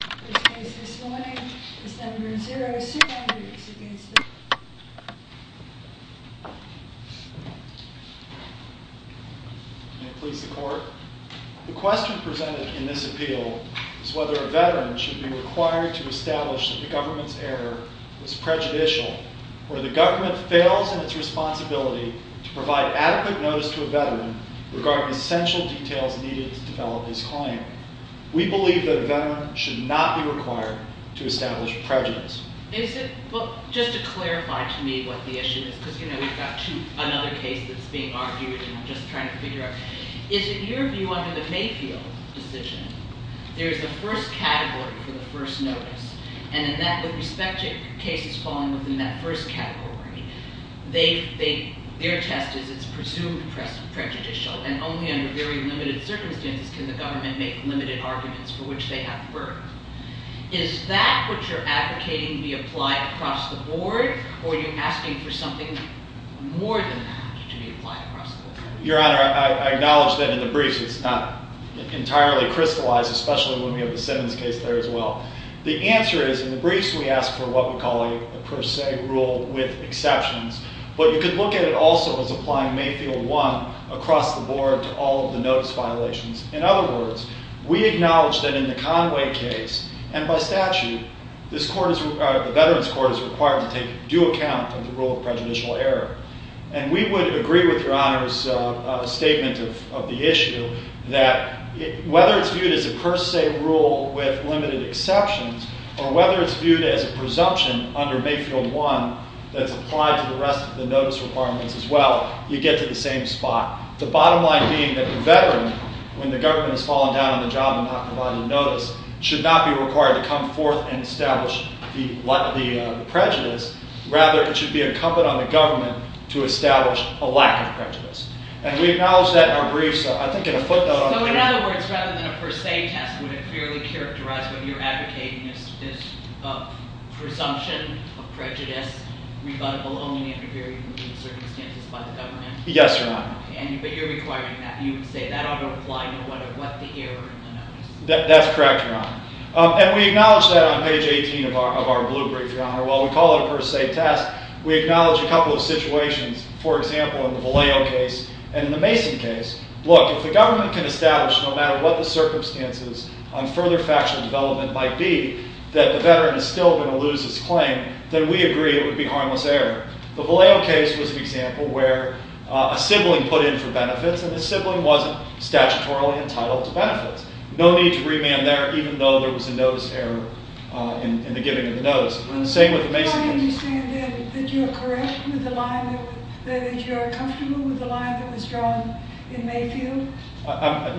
The question presented in this appeal is whether a veteran should be required to establish that the government's error was prejudicial, or the government fails in its responsibility to provide adequate notice to a veteran regarding essential details needed to develop his claim. We believe that a veteran should not be required to establish prejudice. Is that what you're advocating be applied across the board, or are you asking for something more than that to be applied across the board? We acknowledge that in the Conway case, and by statute, the Veterans Court is required to take due account of the rule of prejudicial error. And we would agree with Your Honor's statement of the issue, that whether it's viewed as a per se rule with limited exceptions, or whether it's viewed as a presumption under Mayfield 1 that's applied to the rest of the notice requirements as well, you get to the same spot. The bottom line being that the veteran, when the government has fallen down on the job and not provided notice, should not be required to come forth and establish the prejudice. Rather, it should be incumbent on the government to establish a lack of prejudice. And we acknowledge that in our briefs. So I think in a footnote… So in other words, rather than a per se test, would it fairly characterize what you're advocating as presumption of prejudice, rebuttable only under very limited circumstances by the government? Yes, Your Honor. But you're requiring that. You would say that ought to apply to what the error in the notice is. That's correct, Your Honor. And we acknowledge that on page 18 of our blue brief, Your Honor. While we call it a per se test, we acknowledge a couple of situations. For example, in the Vallejo case and in the Mason case. Look, if the government can establish, no matter what the circumstances on further factual development might be, that the veteran is still going to lose his claim, then we agree it would be harmless error. The Vallejo case was an example where a sibling put in for benefits, and the sibling wasn't statutorily entitled to benefits. No need to remand there, even though there was a notice error in the giving of the notice. And the same with the Mason case. Do I understand then that you are correct with the line, that you are comfortable with the line that was drawn in Mayfield?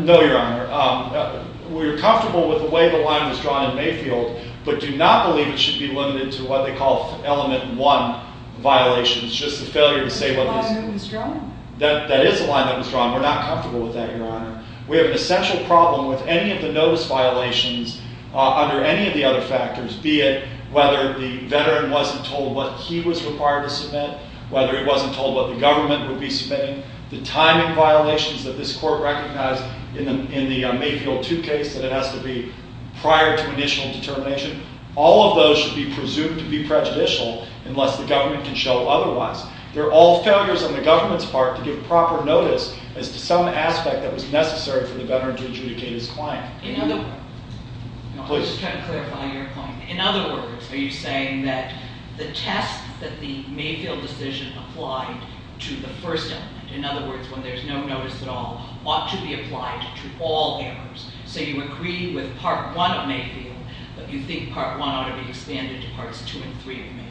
No, Your Honor. We are comfortable with the way the line was drawn in Mayfield, but do not believe it should be limited to what they call element one violations. Just the failure to say what was— The line that was drawn. That is the line that was drawn. We're not comfortable with that, Your Honor. We have an essential problem with any of the notice violations under any of the other factors, be it whether the veteran wasn't told what he was required to submit, whether he wasn't told what the government would be submitting, the timing violations that this court recognized in the Mayfield 2 case that it has to be prior to initial determination. All of those should be presumed to be prejudicial unless the government can show otherwise. They're all failures on the government's part to give proper notice as to some aspect that was necessary for the veteran to adjudicate his claim. I'm just trying to clarify your claim. In other words, are you saying that the test that the Mayfield decision applied to the first element, in other words, when there's no notice at all, ought to be applied to all errors? So you agree with Part 1 of Mayfield, but you think Part 1 ought to be expanded to Parts 2 and 3 of Mayfield?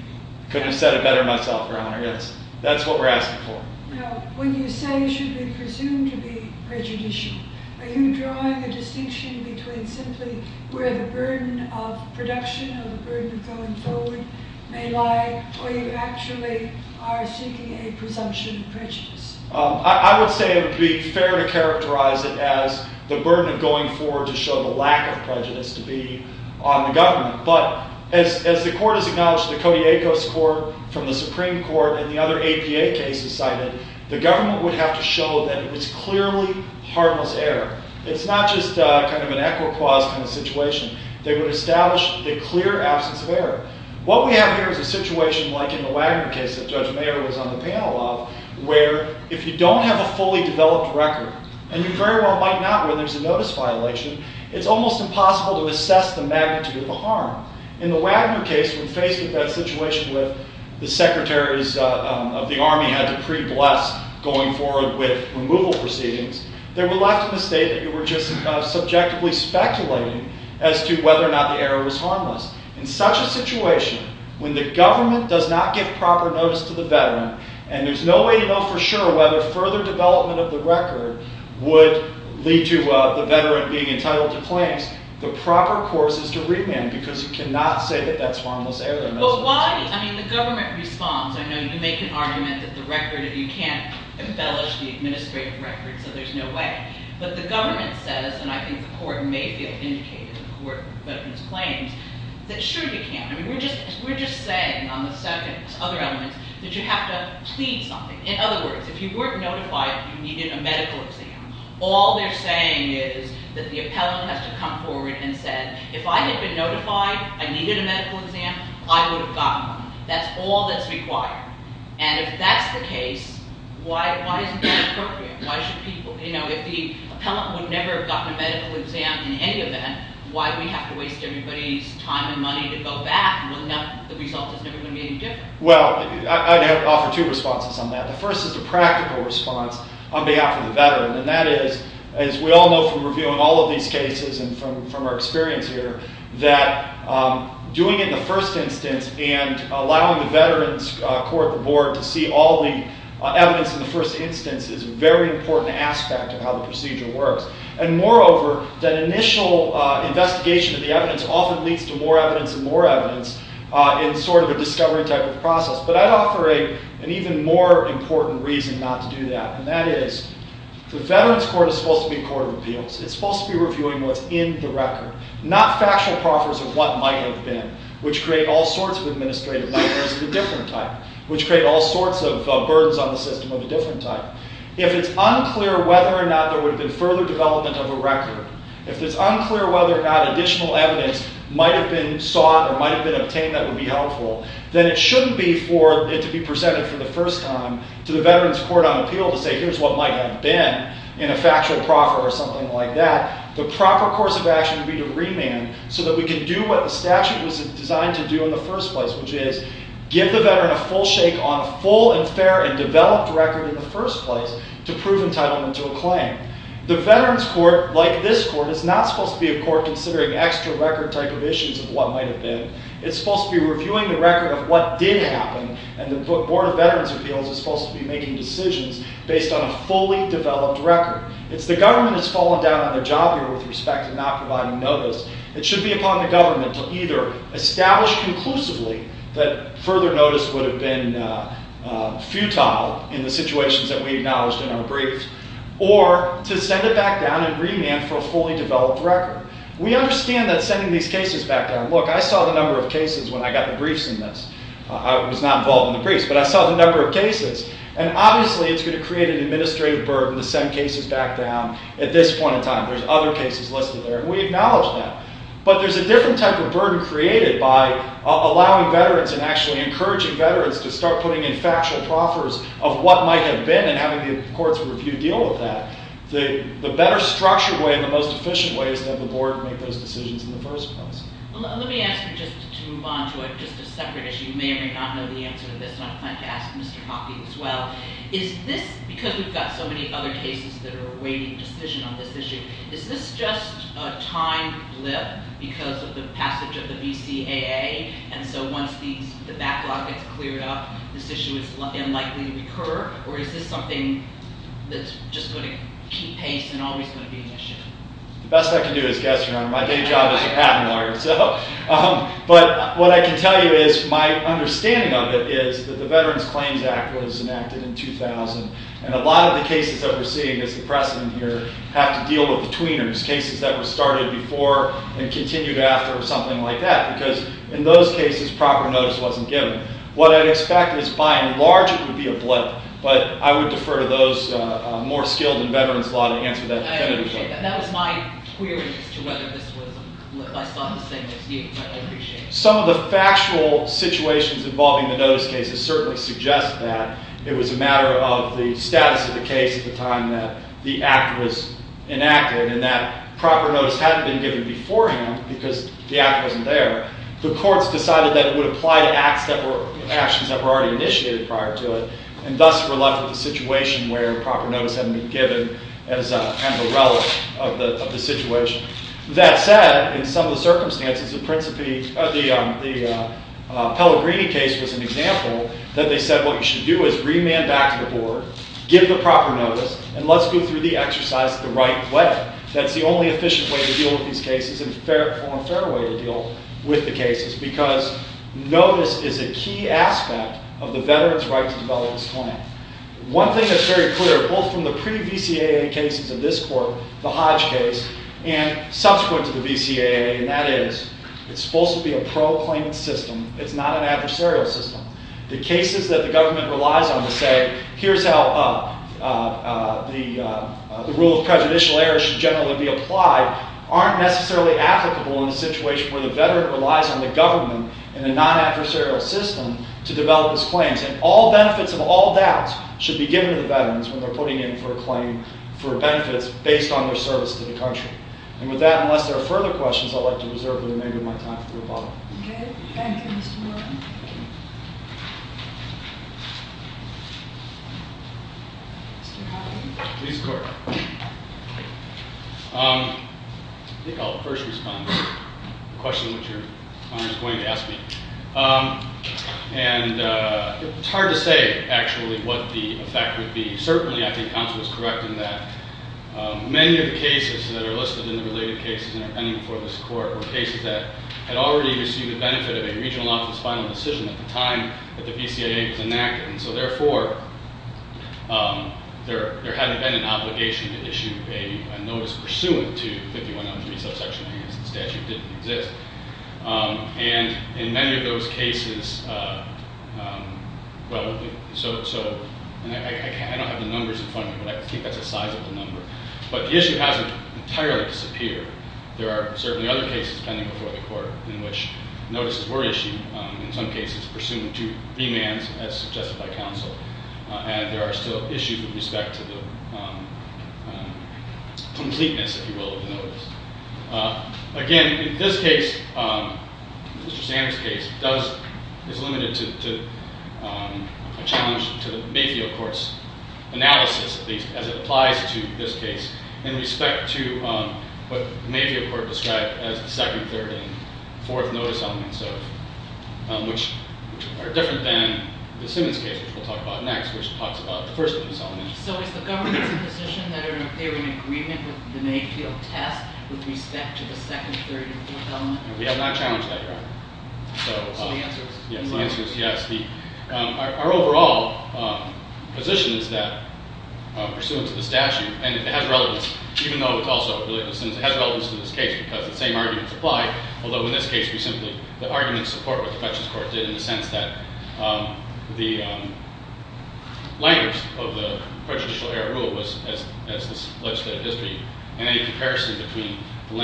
I couldn't have said it better myself, Your Honor. That's what we're asking for. Now, when you say it should be presumed to be prejudicial, are you drawing a distinction between simply where the burden of production or the burden of going forward may lie, or you actually are seeking a presumption of prejudice? I would say it would be fair to characterize it as the burden of going forward to show the lack of prejudice to be on the government. But as the court has acknowledged, the Cody Acos Court from the Supreme Court and the other APA cases cited, the government would have to show that it was clearly harmless error. It's not just kind of an equa-quas kind of situation. They would establish a clear absence of error. What we have here is a situation like in the Wagner case that Judge Mayer was on the panel of, where if you don't have a fully developed record, and you very well might not when there's a notice violation, it's almost impossible to assess the magnitude of the harm. In the Wagner case, when faced with that situation with the secretaries of the army had to pre-bless going forward with removal proceedings, they were left in a state that you were just subjectively speculating as to whether or not the error was harmless. In such a situation, when the government does not give proper notice to the veteran, and there's no way to know for sure whether further development of the record would lead to the veteran being entitled to claims, the proper course is to remand, because you cannot say that that's harmless error. The government responds. I know you make an argument that you can't embellish the administrative record, so there's no way. But the government says, and I think the court may feel indicated in the court's claims, that sure you can. We're just saying on the second, other elements, that you have to plead something. In other words, if you weren't notified, you needed a medical exam. All they're saying is that the appellant has to come forward and say, if I had been notified I needed a medical exam, I would have gotten one. That's all that's required. And if that's the case, why isn't that appropriate? If the appellant would never have gotten a medical exam in any event, why do we have to waste everybody's time and money to go back and look at the results? It's never going to be any different. Well, I'd offer two responses on that. The first is the practical response on behalf of the veteran, and that is, as we all know from reviewing all of these cases and from our experience here, that doing it in the first instance and allowing the veterans court, the board, to see all the evidence in the first instance is a very important aspect of how the procedure works. And moreover, that initial investigation of the evidence often leads to more evidence and more evidence in sort of a discovery type of process. But I'd offer an even more important reason not to do that, and that is, the veterans court is supposed to be a court of appeals. It's supposed to be reviewing what's in the record, not factual proffers of what might have been, which create all sorts of administrative nightmares of a different type, which create all sorts of burdens on the system of a different type. If it's unclear whether or not there would have been further development of a record, if it's unclear whether or not additional evidence might have been sought or might have been obtained that would be helpful, then it shouldn't be for it to be presented for the first time to the veterans court on appeal to say, here's what might have been in a factual proffer or something like that. The proper course of action would be to remand so that we can do what the statute was designed to do in the first place, which is give the veteran a full shake on a full and fair and developed record in the first place to prove entitlement to a claim. The veterans court, like this court, is not supposed to be a court considering extra record type of issues of what might have been. It's supposed to be reviewing the record of what did happen, and the board of veterans appeals is supposed to be making decisions based on a fully developed record. It's the government that's fallen down on the job here with respect to not providing notice. It should be upon the government to either establish conclusively that further notice would have been futile in the situations that we acknowledged in our briefs, or to send it back down and remand for a fully developed record. We understand that sending these cases back down. Look, I saw the number of cases when I got the briefs in this. I was not involved in the briefs, but I saw the number of cases, and obviously it's going to create an administrative burden to send cases back down at this point in time. There's other cases listed there, and we acknowledge that. But there's a different type of burden created by allowing veterans and actually encouraging veterans to start putting in factual proffers of what might have been and having the courts review deal with that. The better structured way and the most efficient way is to have the board make those decisions in the first place. Let me ask you just to move on to just a separate issue. You may or may not know the answer to this, and I plan to ask Mr. Hoppe as well. Is this, because we've got so many other cases that are awaiting decision on this issue, is this just a time blip because of the passage of the VCAA, and so once the backlog gets cleared up, this issue is unlikely to recur, or is this something that's just going to keep pace and always going to be an issue? The best I can do is guess, Your Honor. My day job is a patent lawyer. But what I can tell you is my understanding of it is that the Veterans Claims Act was enacted in 2000, and a lot of the cases that we're seeing as the precedent here have to deal with betweeners, cases that were started before and continued after or something like that, because in those cases proper notice wasn't given. What I'd expect is by and large it would be a blip, but I would defer to those more skilled in veterans law to answer that definitively. I appreciate that. That was my query as to whether this was a blip. I saw it the same as you, and I appreciate it. Some of the factual situations involving the notice cases certainly suggest that. It was a matter of the status of the case at the time that the act was enacted, and that proper notice hadn't been given beforehand because the act wasn't there. The courts decided that it would apply to actions that were already initiated prior to it, and thus were left with a situation where proper notice hadn't been given as an umbrella of the situation. That said, in some of the circumstances, the Pellegrini case was an example that they said what you should do is remand back to the board, give the proper notice, and let's go through the exercise the right way. That's the only efficient way to deal with these cases and the only fair way to deal with the cases because notice is a key aspect of the veterans' right to develop this plan. One thing that's very clear, both from the pre-VCAA cases of this court, the Hodge case, and subsequent to the VCAA, and that is it's supposed to be a pro-claimant system. It's not an adversarial system. The cases that the government relies on to say, here's how the rule of prejudicial error should generally be applied, aren't necessarily applicable in a situation where the veteran relies on the government in a non-adversarial system to develop his claims. And all benefits of all doubts should be given to the veterans when they're putting in for a claim for benefits based on their service to the country. And with that, unless there are further questions, I'd like to reserve the remainder of my time for the rebuttal. Good. Thank you, Mr. Morgan. Mr. Howden. Please, court. I think I'll first respond to the question which your Honor is going to ask me. And it's hard to say, actually, what the effect would be. Certainly, I think counsel is correct in that many of the cases that are listed in the related cases that are pending before this court were cases that had already received the benefit of a regional office final decision at the time that the BCIA was enacted. And so, therefore, there hadn't been an obligation to issue a notice pursuant to 5103, subsection A, as the statute didn't exist. And in many of those cases, well, so, and I don't have the numbers in front of me, but I think that's a sizable number. But the issue hasn't entirely disappeared. There are certainly other cases pending before the court in which notices were issued, in some cases pursuant to remands, as suggested by counsel. And there are still issues with respect to the completeness, if you will, of the notice. Again, in this case, Mr. Sanders' case is limited to a challenge to the Mayfield Court's analysis, as it applies to this case, in respect to what the Mayfield Court described as the second, third, and fourth notice elements of it, which are different than the Simmons case, which we'll talk about next, which talks about the first notice element. So is the government in a position that they're in agreement with the Mayfield test with respect to the second, third, and fourth element? We have not challenged that yet. So the answer is yes. Our overall position is that, pursuant to the statute, and it has relevance, even though it's also related to Simmons, it has relevance to this case because the same arguments apply, although in this case we simply—the arguments support what the Fetcher's court did in the sense that the language of the prejudicial error rule as the legislative history and any comparison between the plain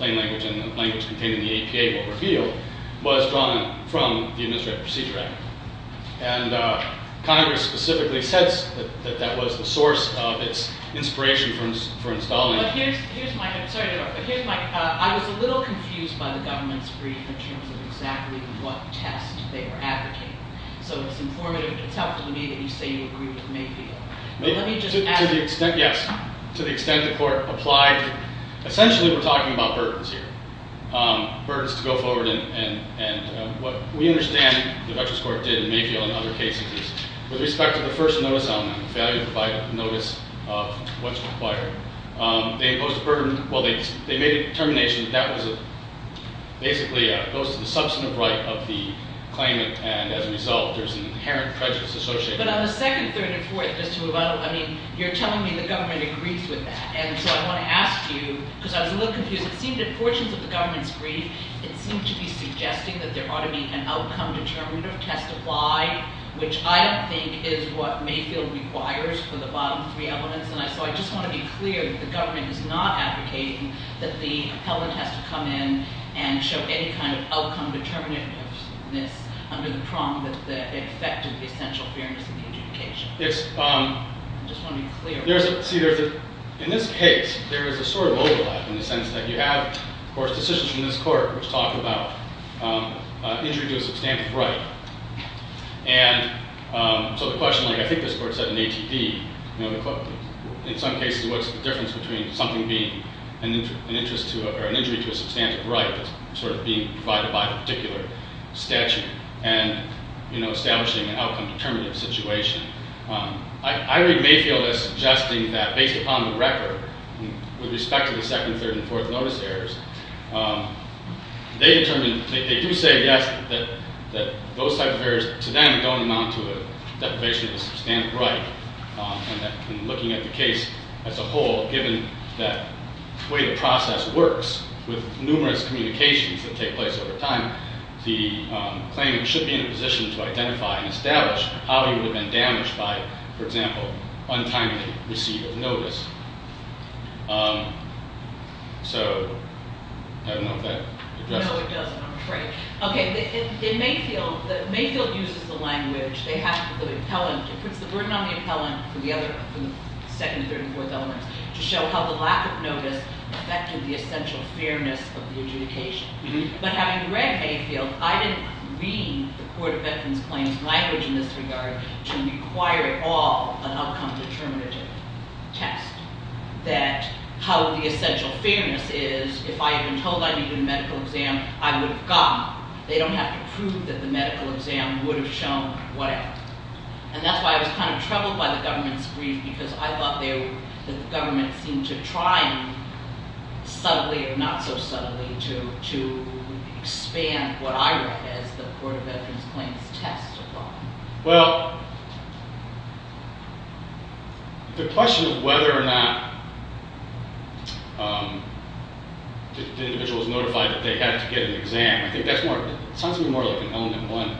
language and the language contained in the APA will reveal was drawn from the Administrative Procedure Act. And Congress specifically says that that was the source of its inspiration for installing— But here's my—I'm sorry to interrupt, but here's my— I was a little confused by the government's brief in terms of exactly what test they were advocating. So it's informative. It's helpful to me that you say you agree with Mayfield. But let me just add— To the extent—yes. To the extent the court applied—essentially, we're talking about burdens here, burdens to go forward, and what we understand the Fetcher's court did in Mayfield and other cases is with respect to the first notice element, the failure to provide a notice of what's required, they imposed a burden—well, they made a determination that that was basically opposed to the substantive right of the claimant, and as a result, there's an inherent prejudice associated with it. But on the second, third, and fourth, just to move on, I mean, you're telling me the government agrees with that. And so I want to ask you, because I was a little confused, it seemed in portions of the government's brief, it seemed to be suggesting that there ought to be an outcome-determinative test of why, which I don't think is what Mayfield requires for the bottom three elements. And so I just want to be clear that the government is not advocating that the appellant has to come in and show any kind of outcome-determinativeness under the prong that it affected the essential fairness in the adjudication. Yes. I just want to be clear. In this case, there is a sort of overlap in the sense that you have, of course, decisions in this court which talk about injury to a substantive right. And so the question, like I think this court said in ATD, in some cases, what's the difference between something being an injury to a substantive right, sort of being provided by a particular statute, and establishing an outcome-determinative situation? I read Mayfield as suggesting that based upon the record, with respect to the second, third, and fourth notice errors, they determined, they do say, yes, that those type of errors to them don't amount to a deprivation of a substantive right. And looking at the case as a whole, given the way the process works, with numerous communications that take place over time, the claimant should be in a position to identify and establish how he would have been damaged by, for example, untimely receipt of notice. So, I don't know if that addresses it. No, it doesn't, I'm afraid. Okay, in Mayfield, Mayfield uses the language, they have the appellant, it puts the burden on the appellant for the second, third, and fourth elements to show how the lack of notice affected the essential fairness of the adjudication. But having read Mayfield, I didn't read the Court of Veterans Claims language in this regard to require at all an outcome-determinative test. That how the essential fairness is, if I had been told I needed a medical exam, I would have gotten it. They don't have to prove that the medical exam would have shown whatever. And that's why I was kind of troubled by the government's brief, because I thought the government seemed to try, subtly or not so subtly, to expand what I read as the Court of Veterans Claims test. Well, the question of whether or not the individual was notified that they had to get an exam, I think that sounds to me more like an element one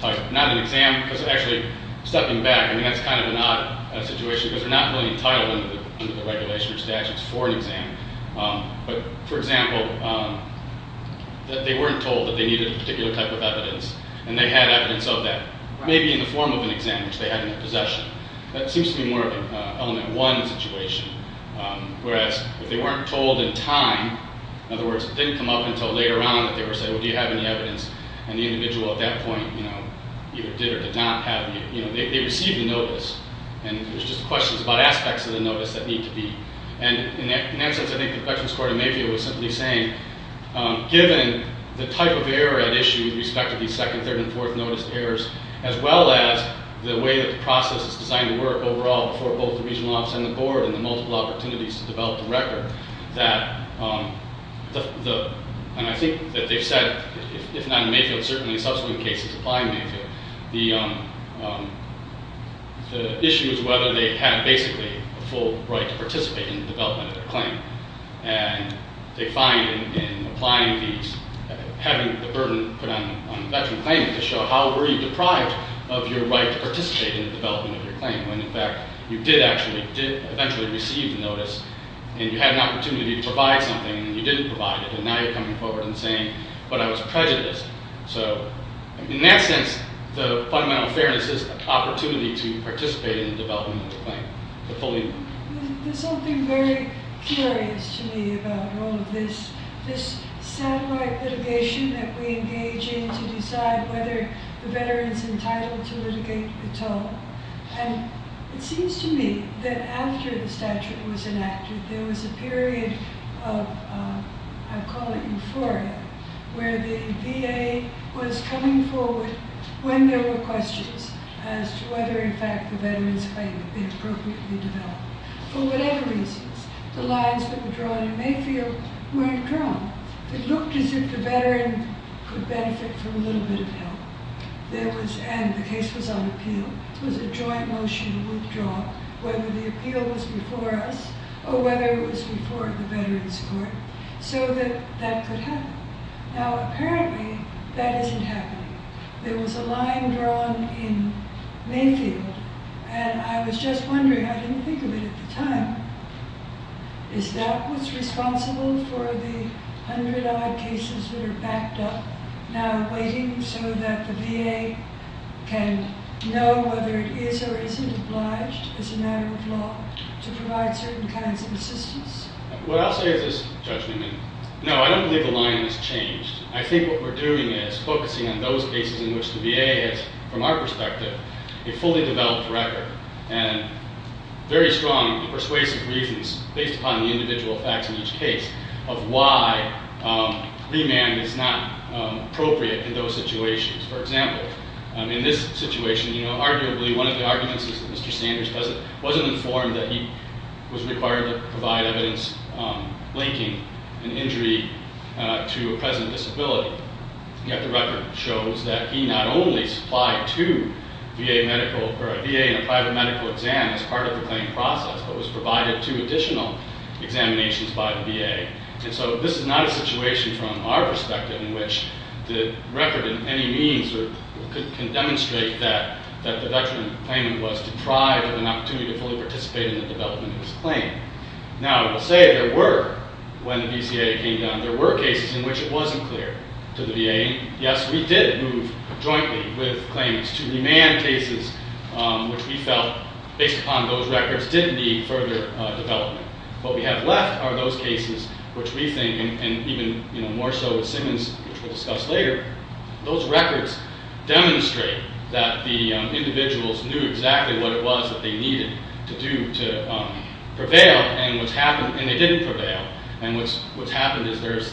type, not an exam, because actually, stepping back, I mean, that's kind of an odd situation, because they're not really entitled under the regulations or statutes for an exam. But, for example, they weren't told that they needed a particular type of evidence, and they had evidence of that, maybe in the form of an exam, which they had in their possession. That seems to be more of an element one situation, whereas if they weren't told in time, in other words, it didn't come up until later on that they were said, well, do you have any evidence? And the individual at that point, you know, either did or did not have, you know, they received a notice, and there's just questions about aspects of the notice that need to be. And in that sense, I think the Veterans Court of Mayfield was simply saying, given the type of error at issue with respect to these second, third, and fourth notice errors, as well as the way that the process is designed to work overall for both the regional office and the board and the multiple opportunities to develop the record, that the, and I think that they've said, if not in Mayfield, certainly in subsequent cases applying Mayfield, the issue is whether they had basically a full right to participate in the development of their claim. And they find in applying these, having the burden put on the veteran claimant to show how were you deprived of your right to participate in the development of your claim when in fact you did actually, did eventually receive the notice, and you had an opportunity to provide something, and you didn't provide it, and now you're coming forward and saying, but I was prejudiced. So in that sense, the fundamental fairness is an opportunity to participate in the development of the claim. There's something very curious to me about all of this, this satellite litigation that we engage in to decide whether the veteran is entitled to litigate at all. And it seems to me that after the statute was enacted, there was a period of, I'd call it euphoria, where the VA was coming forward when there were questions as to whether in fact the veteran's claim had been appropriately developed. For whatever reasons, the lines that were drawn in Mayfield weren't drawn. It looked as if the veteran could benefit from a little bit of help. And the case was on appeal. It was a joint motion withdrawal, whether the appeal was before us or whether it was before the Veterans Court, so that that could happen. Now apparently, that isn't happening. There was a line drawn in Mayfield, and I was just wondering, I didn't think of it at the time, is that what's responsible for the hundred odd cases that are backed up now waiting so that the VA can know whether it is or isn't obliged as a matter of law to provide certain kinds of assistance? What I'll say is this, Judge Leeman, no, I don't believe the line has changed. I think what we're doing is focusing on those cases in which the VA has, from our perspective, a fully developed record and very strong persuasive reasons based upon the individual facts in each case of why Leeman is not appropriate in those situations. For example, in this situation, arguably one of the arguments is that Mr. Sanders wasn't informed that he was required to provide evidence linking an injury to a present disability. Yet the record shows that he not only supplied to a VA in a private medical exam as part of the claim process, but was provided two additional examinations by the VA. And so this is not a situation from our perspective in which the record in any means can demonstrate that the veteran claimant was deprived of an opportunity to fully participate in the development of his claim. Now, I will say there were, when the BCAA came down, there were cases in which it wasn't clear to the VA. Yes, we did move jointly with claimants to remand cases which we felt, based upon those records, didn't need further development. What we have left are those cases which we think, and even more so with Simmons, which we'll discuss later, those records demonstrate that the individuals knew exactly what it was that they needed to do to prevail, and they didn't prevail. And what's happened is there's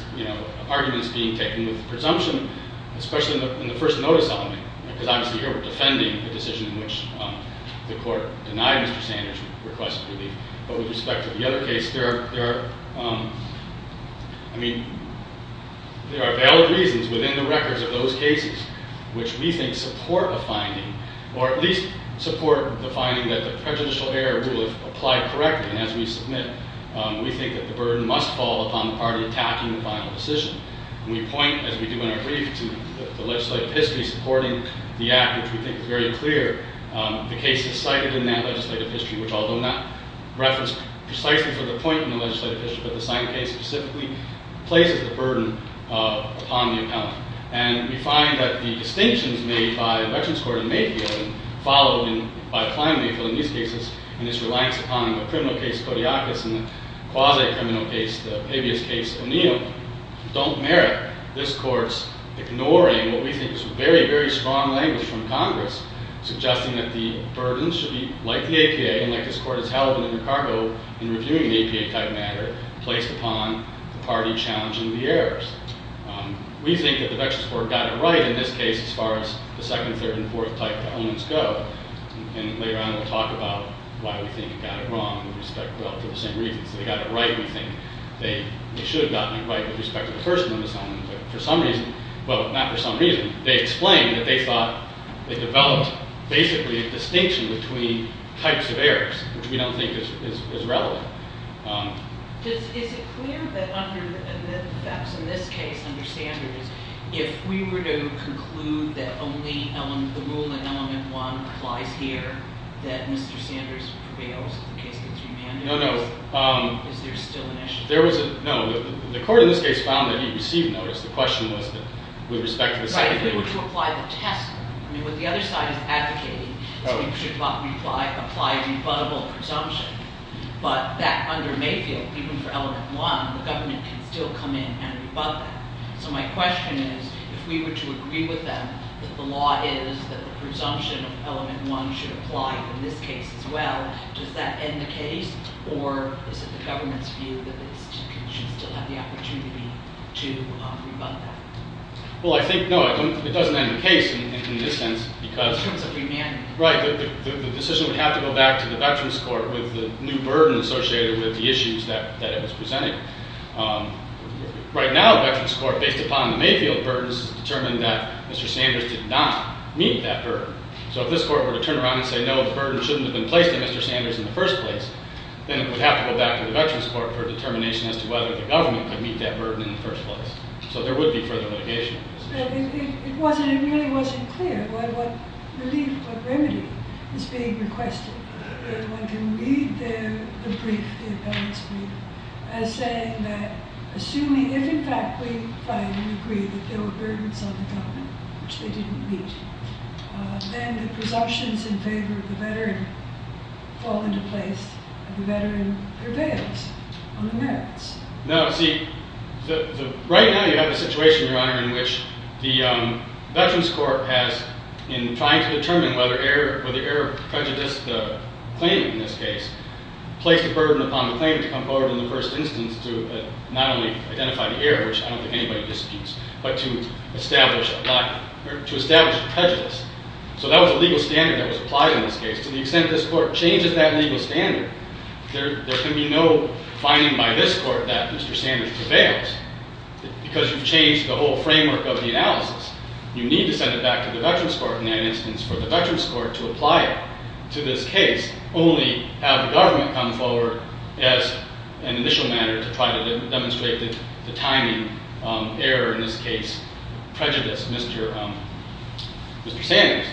arguments being taken with presumption, especially in the first notice element, because obviously here we're defending the decision in which the court denied Mr. Sanders' request for relief. But with respect to the other case, there are valid reasons within the records of those cases which we think support a finding, or at least support the finding that the prejudicial error rule applied correctly. And as we submit, we think that the burden must fall upon the party attacking the final decision. And we point, as we do in our brief, to the legislative history supporting the act, which we think is very clear the cases cited in that legislative history, which although not referenced precisely for the point in the legislative history, but the same case specifically, places the burden upon the account. And we find that the distinctions made by Veterans Court in Mayfield, followed by Klein Mayfield in these cases, and its reliance upon the criminal case Kodiakos and the quasi-criminal case, the previous case O'Neill, don't merit this court's ignoring what we think is very, very strong language from Congress suggesting that the burden should be, like the APA and like this court has held in Chicago in reviewing the APA-type matter, placed upon the party challenging the errors. We think that the Veterans Court got it right in this case as far as the second, third, and fourth type elements go. And later on we'll talk about why we think it got it wrong with respect, well, for the same reasons. They got it right, we think they should have gotten it right with respect to the first one, but for some reason, well, not for some reason, they explained that they thought they developed basically a distinction between types of errors, which we don't think is relevant. Is it clear that under, perhaps in this case under Sanders, if we were to conclude that only the rule in element one applies here, that Mr. Sanders prevails in the case of the three mandates? No, no. Is there still an issue? There was a, no, the court in this case found that he received notice. The question was that with respect to the second thing. Right, if they were to apply the test, I mean what the other side is advocating, so you should apply rebuttable presumption, but that under Mayfield, even for element one, the government can still come in and rebut that. So my question is, if we were to agree with them that the law is that the presumption of element one should apply in this case as well, does that end the case, or is it the government's view that it should still have the opportunity to rebut that? Well, I think, no, it doesn't end the case in this sense because Right, the decision would have to go back to the Veterans Court with the new burden associated with the issues that it was presenting. Right now, the Veterans Court, based upon the Mayfield burdens, has determined that Mr. Sanders did not meet that burden. So if this court were to turn around and say, no, the burden shouldn't have been placed on Mr. Sanders in the first place, then it would have to go back to the Veterans Court for a determination as to whether the government could meet that burden in the first place. So there would be further litigation. It really wasn't clear what relief, what remedy is being requested. One can read the brief, the appellate's brief, as saying that assuming, if in fact we find and agree that there were burdens on the government which they didn't meet, then the presumptions in favor of the veteran fall into place and the veteran prevails on the merits. No, see, right now you have a situation, Your Honor, in which the Veterans Court has, in trying to determine whether error prejudiced the claimant in this case, placed a burden upon the claimant to come forward in the first instance to not only identify the error, which I don't think anybody disputes, but to establish a prejudice. So that was a legal standard that was applied in this case. To the extent that this court changes that legal standard, there can be no finding by this court that Mr. Sanders prevails. Because you've changed the whole framework of the analysis, you need to send it back to the Veterans Court in that instance for the Veterans Court to apply it to this case, only have the government come forward as an initial manner to try to demonstrate the timing error in this case prejudiced Mr. Sanders.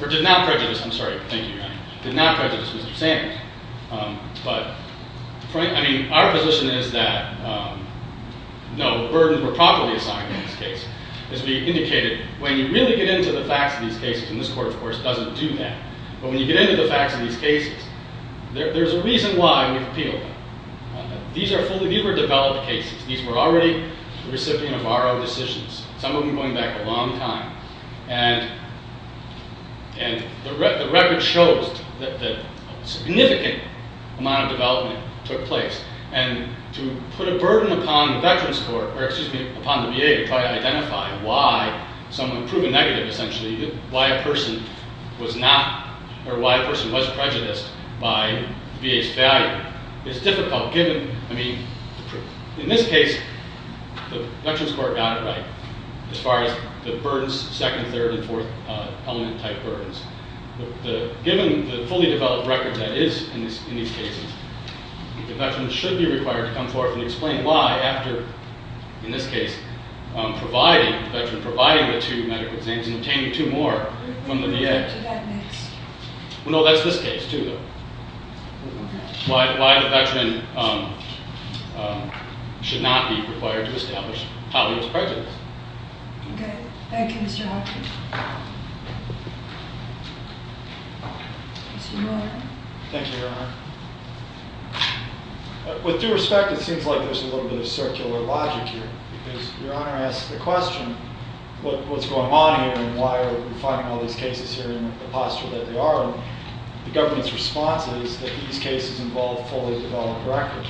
Or did not prejudice, I'm sorry, thank you, Your Honor. Did not prejudice Mr. Sanders. But, I mean, our position is that, no, burdens were properly assigned in this case. As we indicated, when you really get into the facts of these cases, and this court, of course, doesn't do that, but when you get into the facts of these cases, there's a reason why we've appealed them. These are fully, these were developed cases. These were already the recipient of RO decisions. Some of them going back a long time. And the record shows that a significant amount of development took place. And to put a burden upon the Veterans Court, or excuse me, upon the VA to try to identify why someone, prove a negative essentially, why a person was not, or why a person was prejudiced by the VA's value, is difficult given, I mean, in this case, the Veterans Court got it right as far as the burdens, second, third, and fourth element type burdens. Given the fully developed record that is in these cases, the Veteran should be required to come forth and explain why, after, in this case, providing, the Veteran providing the two medical exams and obtaining two more from the VA. Well, no, that's this case, too, though. Why the Veteran should not be required to establish how he was prejudiced. Okay. Thank you, Mr. Hawkins. Mr. Mueller. Thank you, Your Honor. With due respect, it seems like there's a little bit of circular logic here because Your Honor asks the question, what's going on here and why are we finding all these cases here in the posture that they are? The government's response is that these cases involve fully developed records.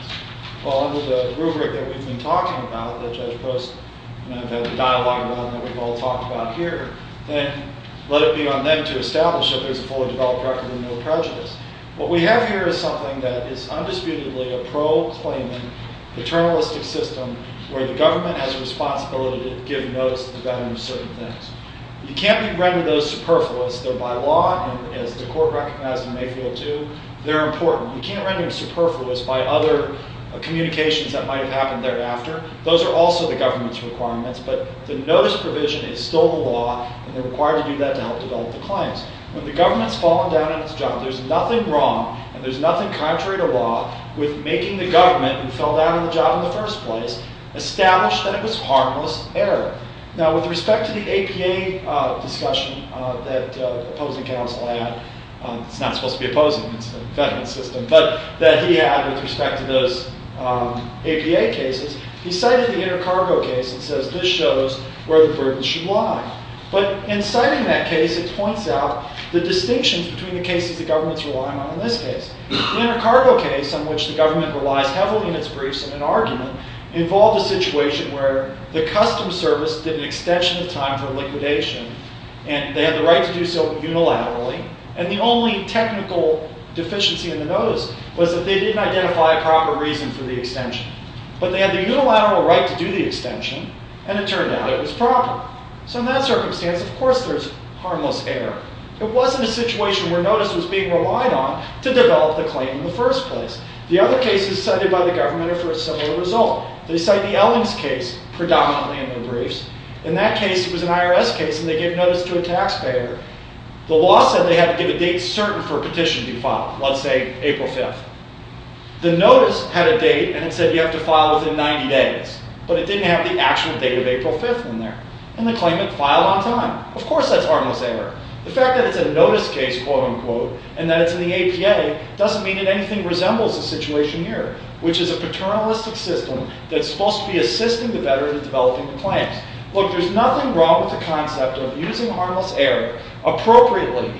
Well, under the rubric that we've been talking about, that Judge Post and I have had a dialogue about and that we've all talked about here, then let it be on them to establish that there's a fully developed record and no prejudice. What we have here is something that is undisputedly a pro-claiming, paternalistic system where the government has a responsibility to give notice to the Veterans of certain things. You can't render those superfluous, though, by law, and as the Court recognized in Mayfield II, they're important. You can't render them superfluous by other communications that might have happened thereafter. Those are also the government's requirements, but the notice provision is still the law and they're required to do that to help develop the claims. When the government's fallen down on its job, there's nothing wrong and there's nothing contrary to law with making the government, who fell down on the job in the first place, establish that it was harmless error. Now, with respect to the APA discussion that opposing counsel had, it's not supposed to be opposing, it's a veteran's system, but that he had with respect to those APA cases, he cited the inter-cargo case and says, this shows where the burden should lie. But in citing that case, it points out the distinctions between the cases the government's relying on in this case. The inter-cargo case, on which the government relies heavily in its briefs in an argument, involved a situation where the custom service did an extension of time for liquidation and they had the right to do so unilaterally and the only technical deficiency in the notice was that they didn't identify a proper reason for the extension. But they had the unilateral right to do the extension and it turned out it was proper. So in that circumstance, of course there's harmless error. It wasn't a situation where notice was being relied on to develop the claim in the first place. The other cases cited by the government are for a similar result. They cite the Ellings case predominantly in their briefs. In that case, it was an IRS case and they gave notice to a taxpayer. The law said they had to give a date certain for a petition to be filed, let's say April 5th. The notice had a date and it said you have to file within 90 days, but it didn't have the actual date of April 5th in there. And the claimant filed on time. Of course that's harmless error. The fact that it's a notice case, quote-unquote, and that it's in the APA doesn't mean that anything resembles the situation here, which is a paternalistic system that's supposed to be assisting the veteran in developing the claims. Look, there's nothing wrong with the concept of using harmless error appropriately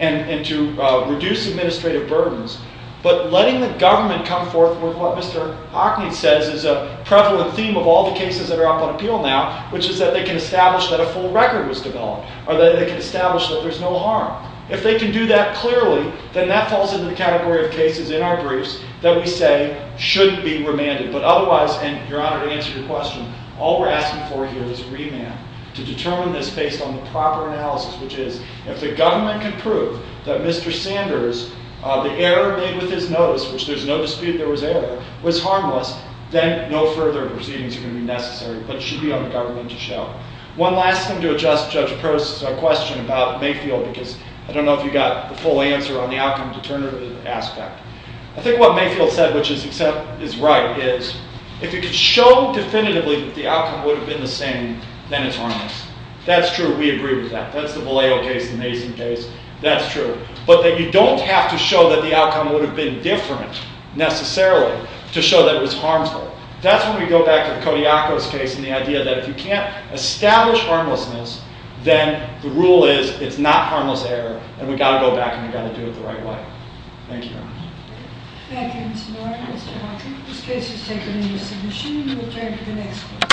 and to reduce administrative burdens, but letting the government come forth with what Mr. Hockney says is a prevalent theme of all the cases that are up on appeal now, which is that they can establish that a full record was developed or that they can establish that there's no harm. If they can do that clearly, then that falls into the category of cases in our briefs that we say shouldn't be remanded. But otherwise, and you're honored to answer your question, all we're asking for here is remand to determine this based on the proper analysis, which is if the government can prove that Mr. Sanders, the error made with his notice, which there's no dispute there was error, was harmless, then no further proceedings are going to be necessary, but it should be on the government to show. One last thing to address Judge Perce's question about Mayfield, because I don't know if you got the full answer on the outcome determinative aspect. I think what Mayfield said, which is right, is if you could show definitively that the outcome would have been the same, then it's harmless. That's true. We agree with that. That's the Vallejo case, the Mason case. That's true. But that you don't have to show that the outcome would have been different necessarily to show that it was harmful. That's when we go back to the Kodiakos case and the idea that if you can't establish harmlessness, then the rule is it's not harmless error, and we've got to go back and we've got to do it the right way. Thank you very much. Thank you, Mr. Martin. Mr. Martin, this case is taken into submission. We will turn to the next question.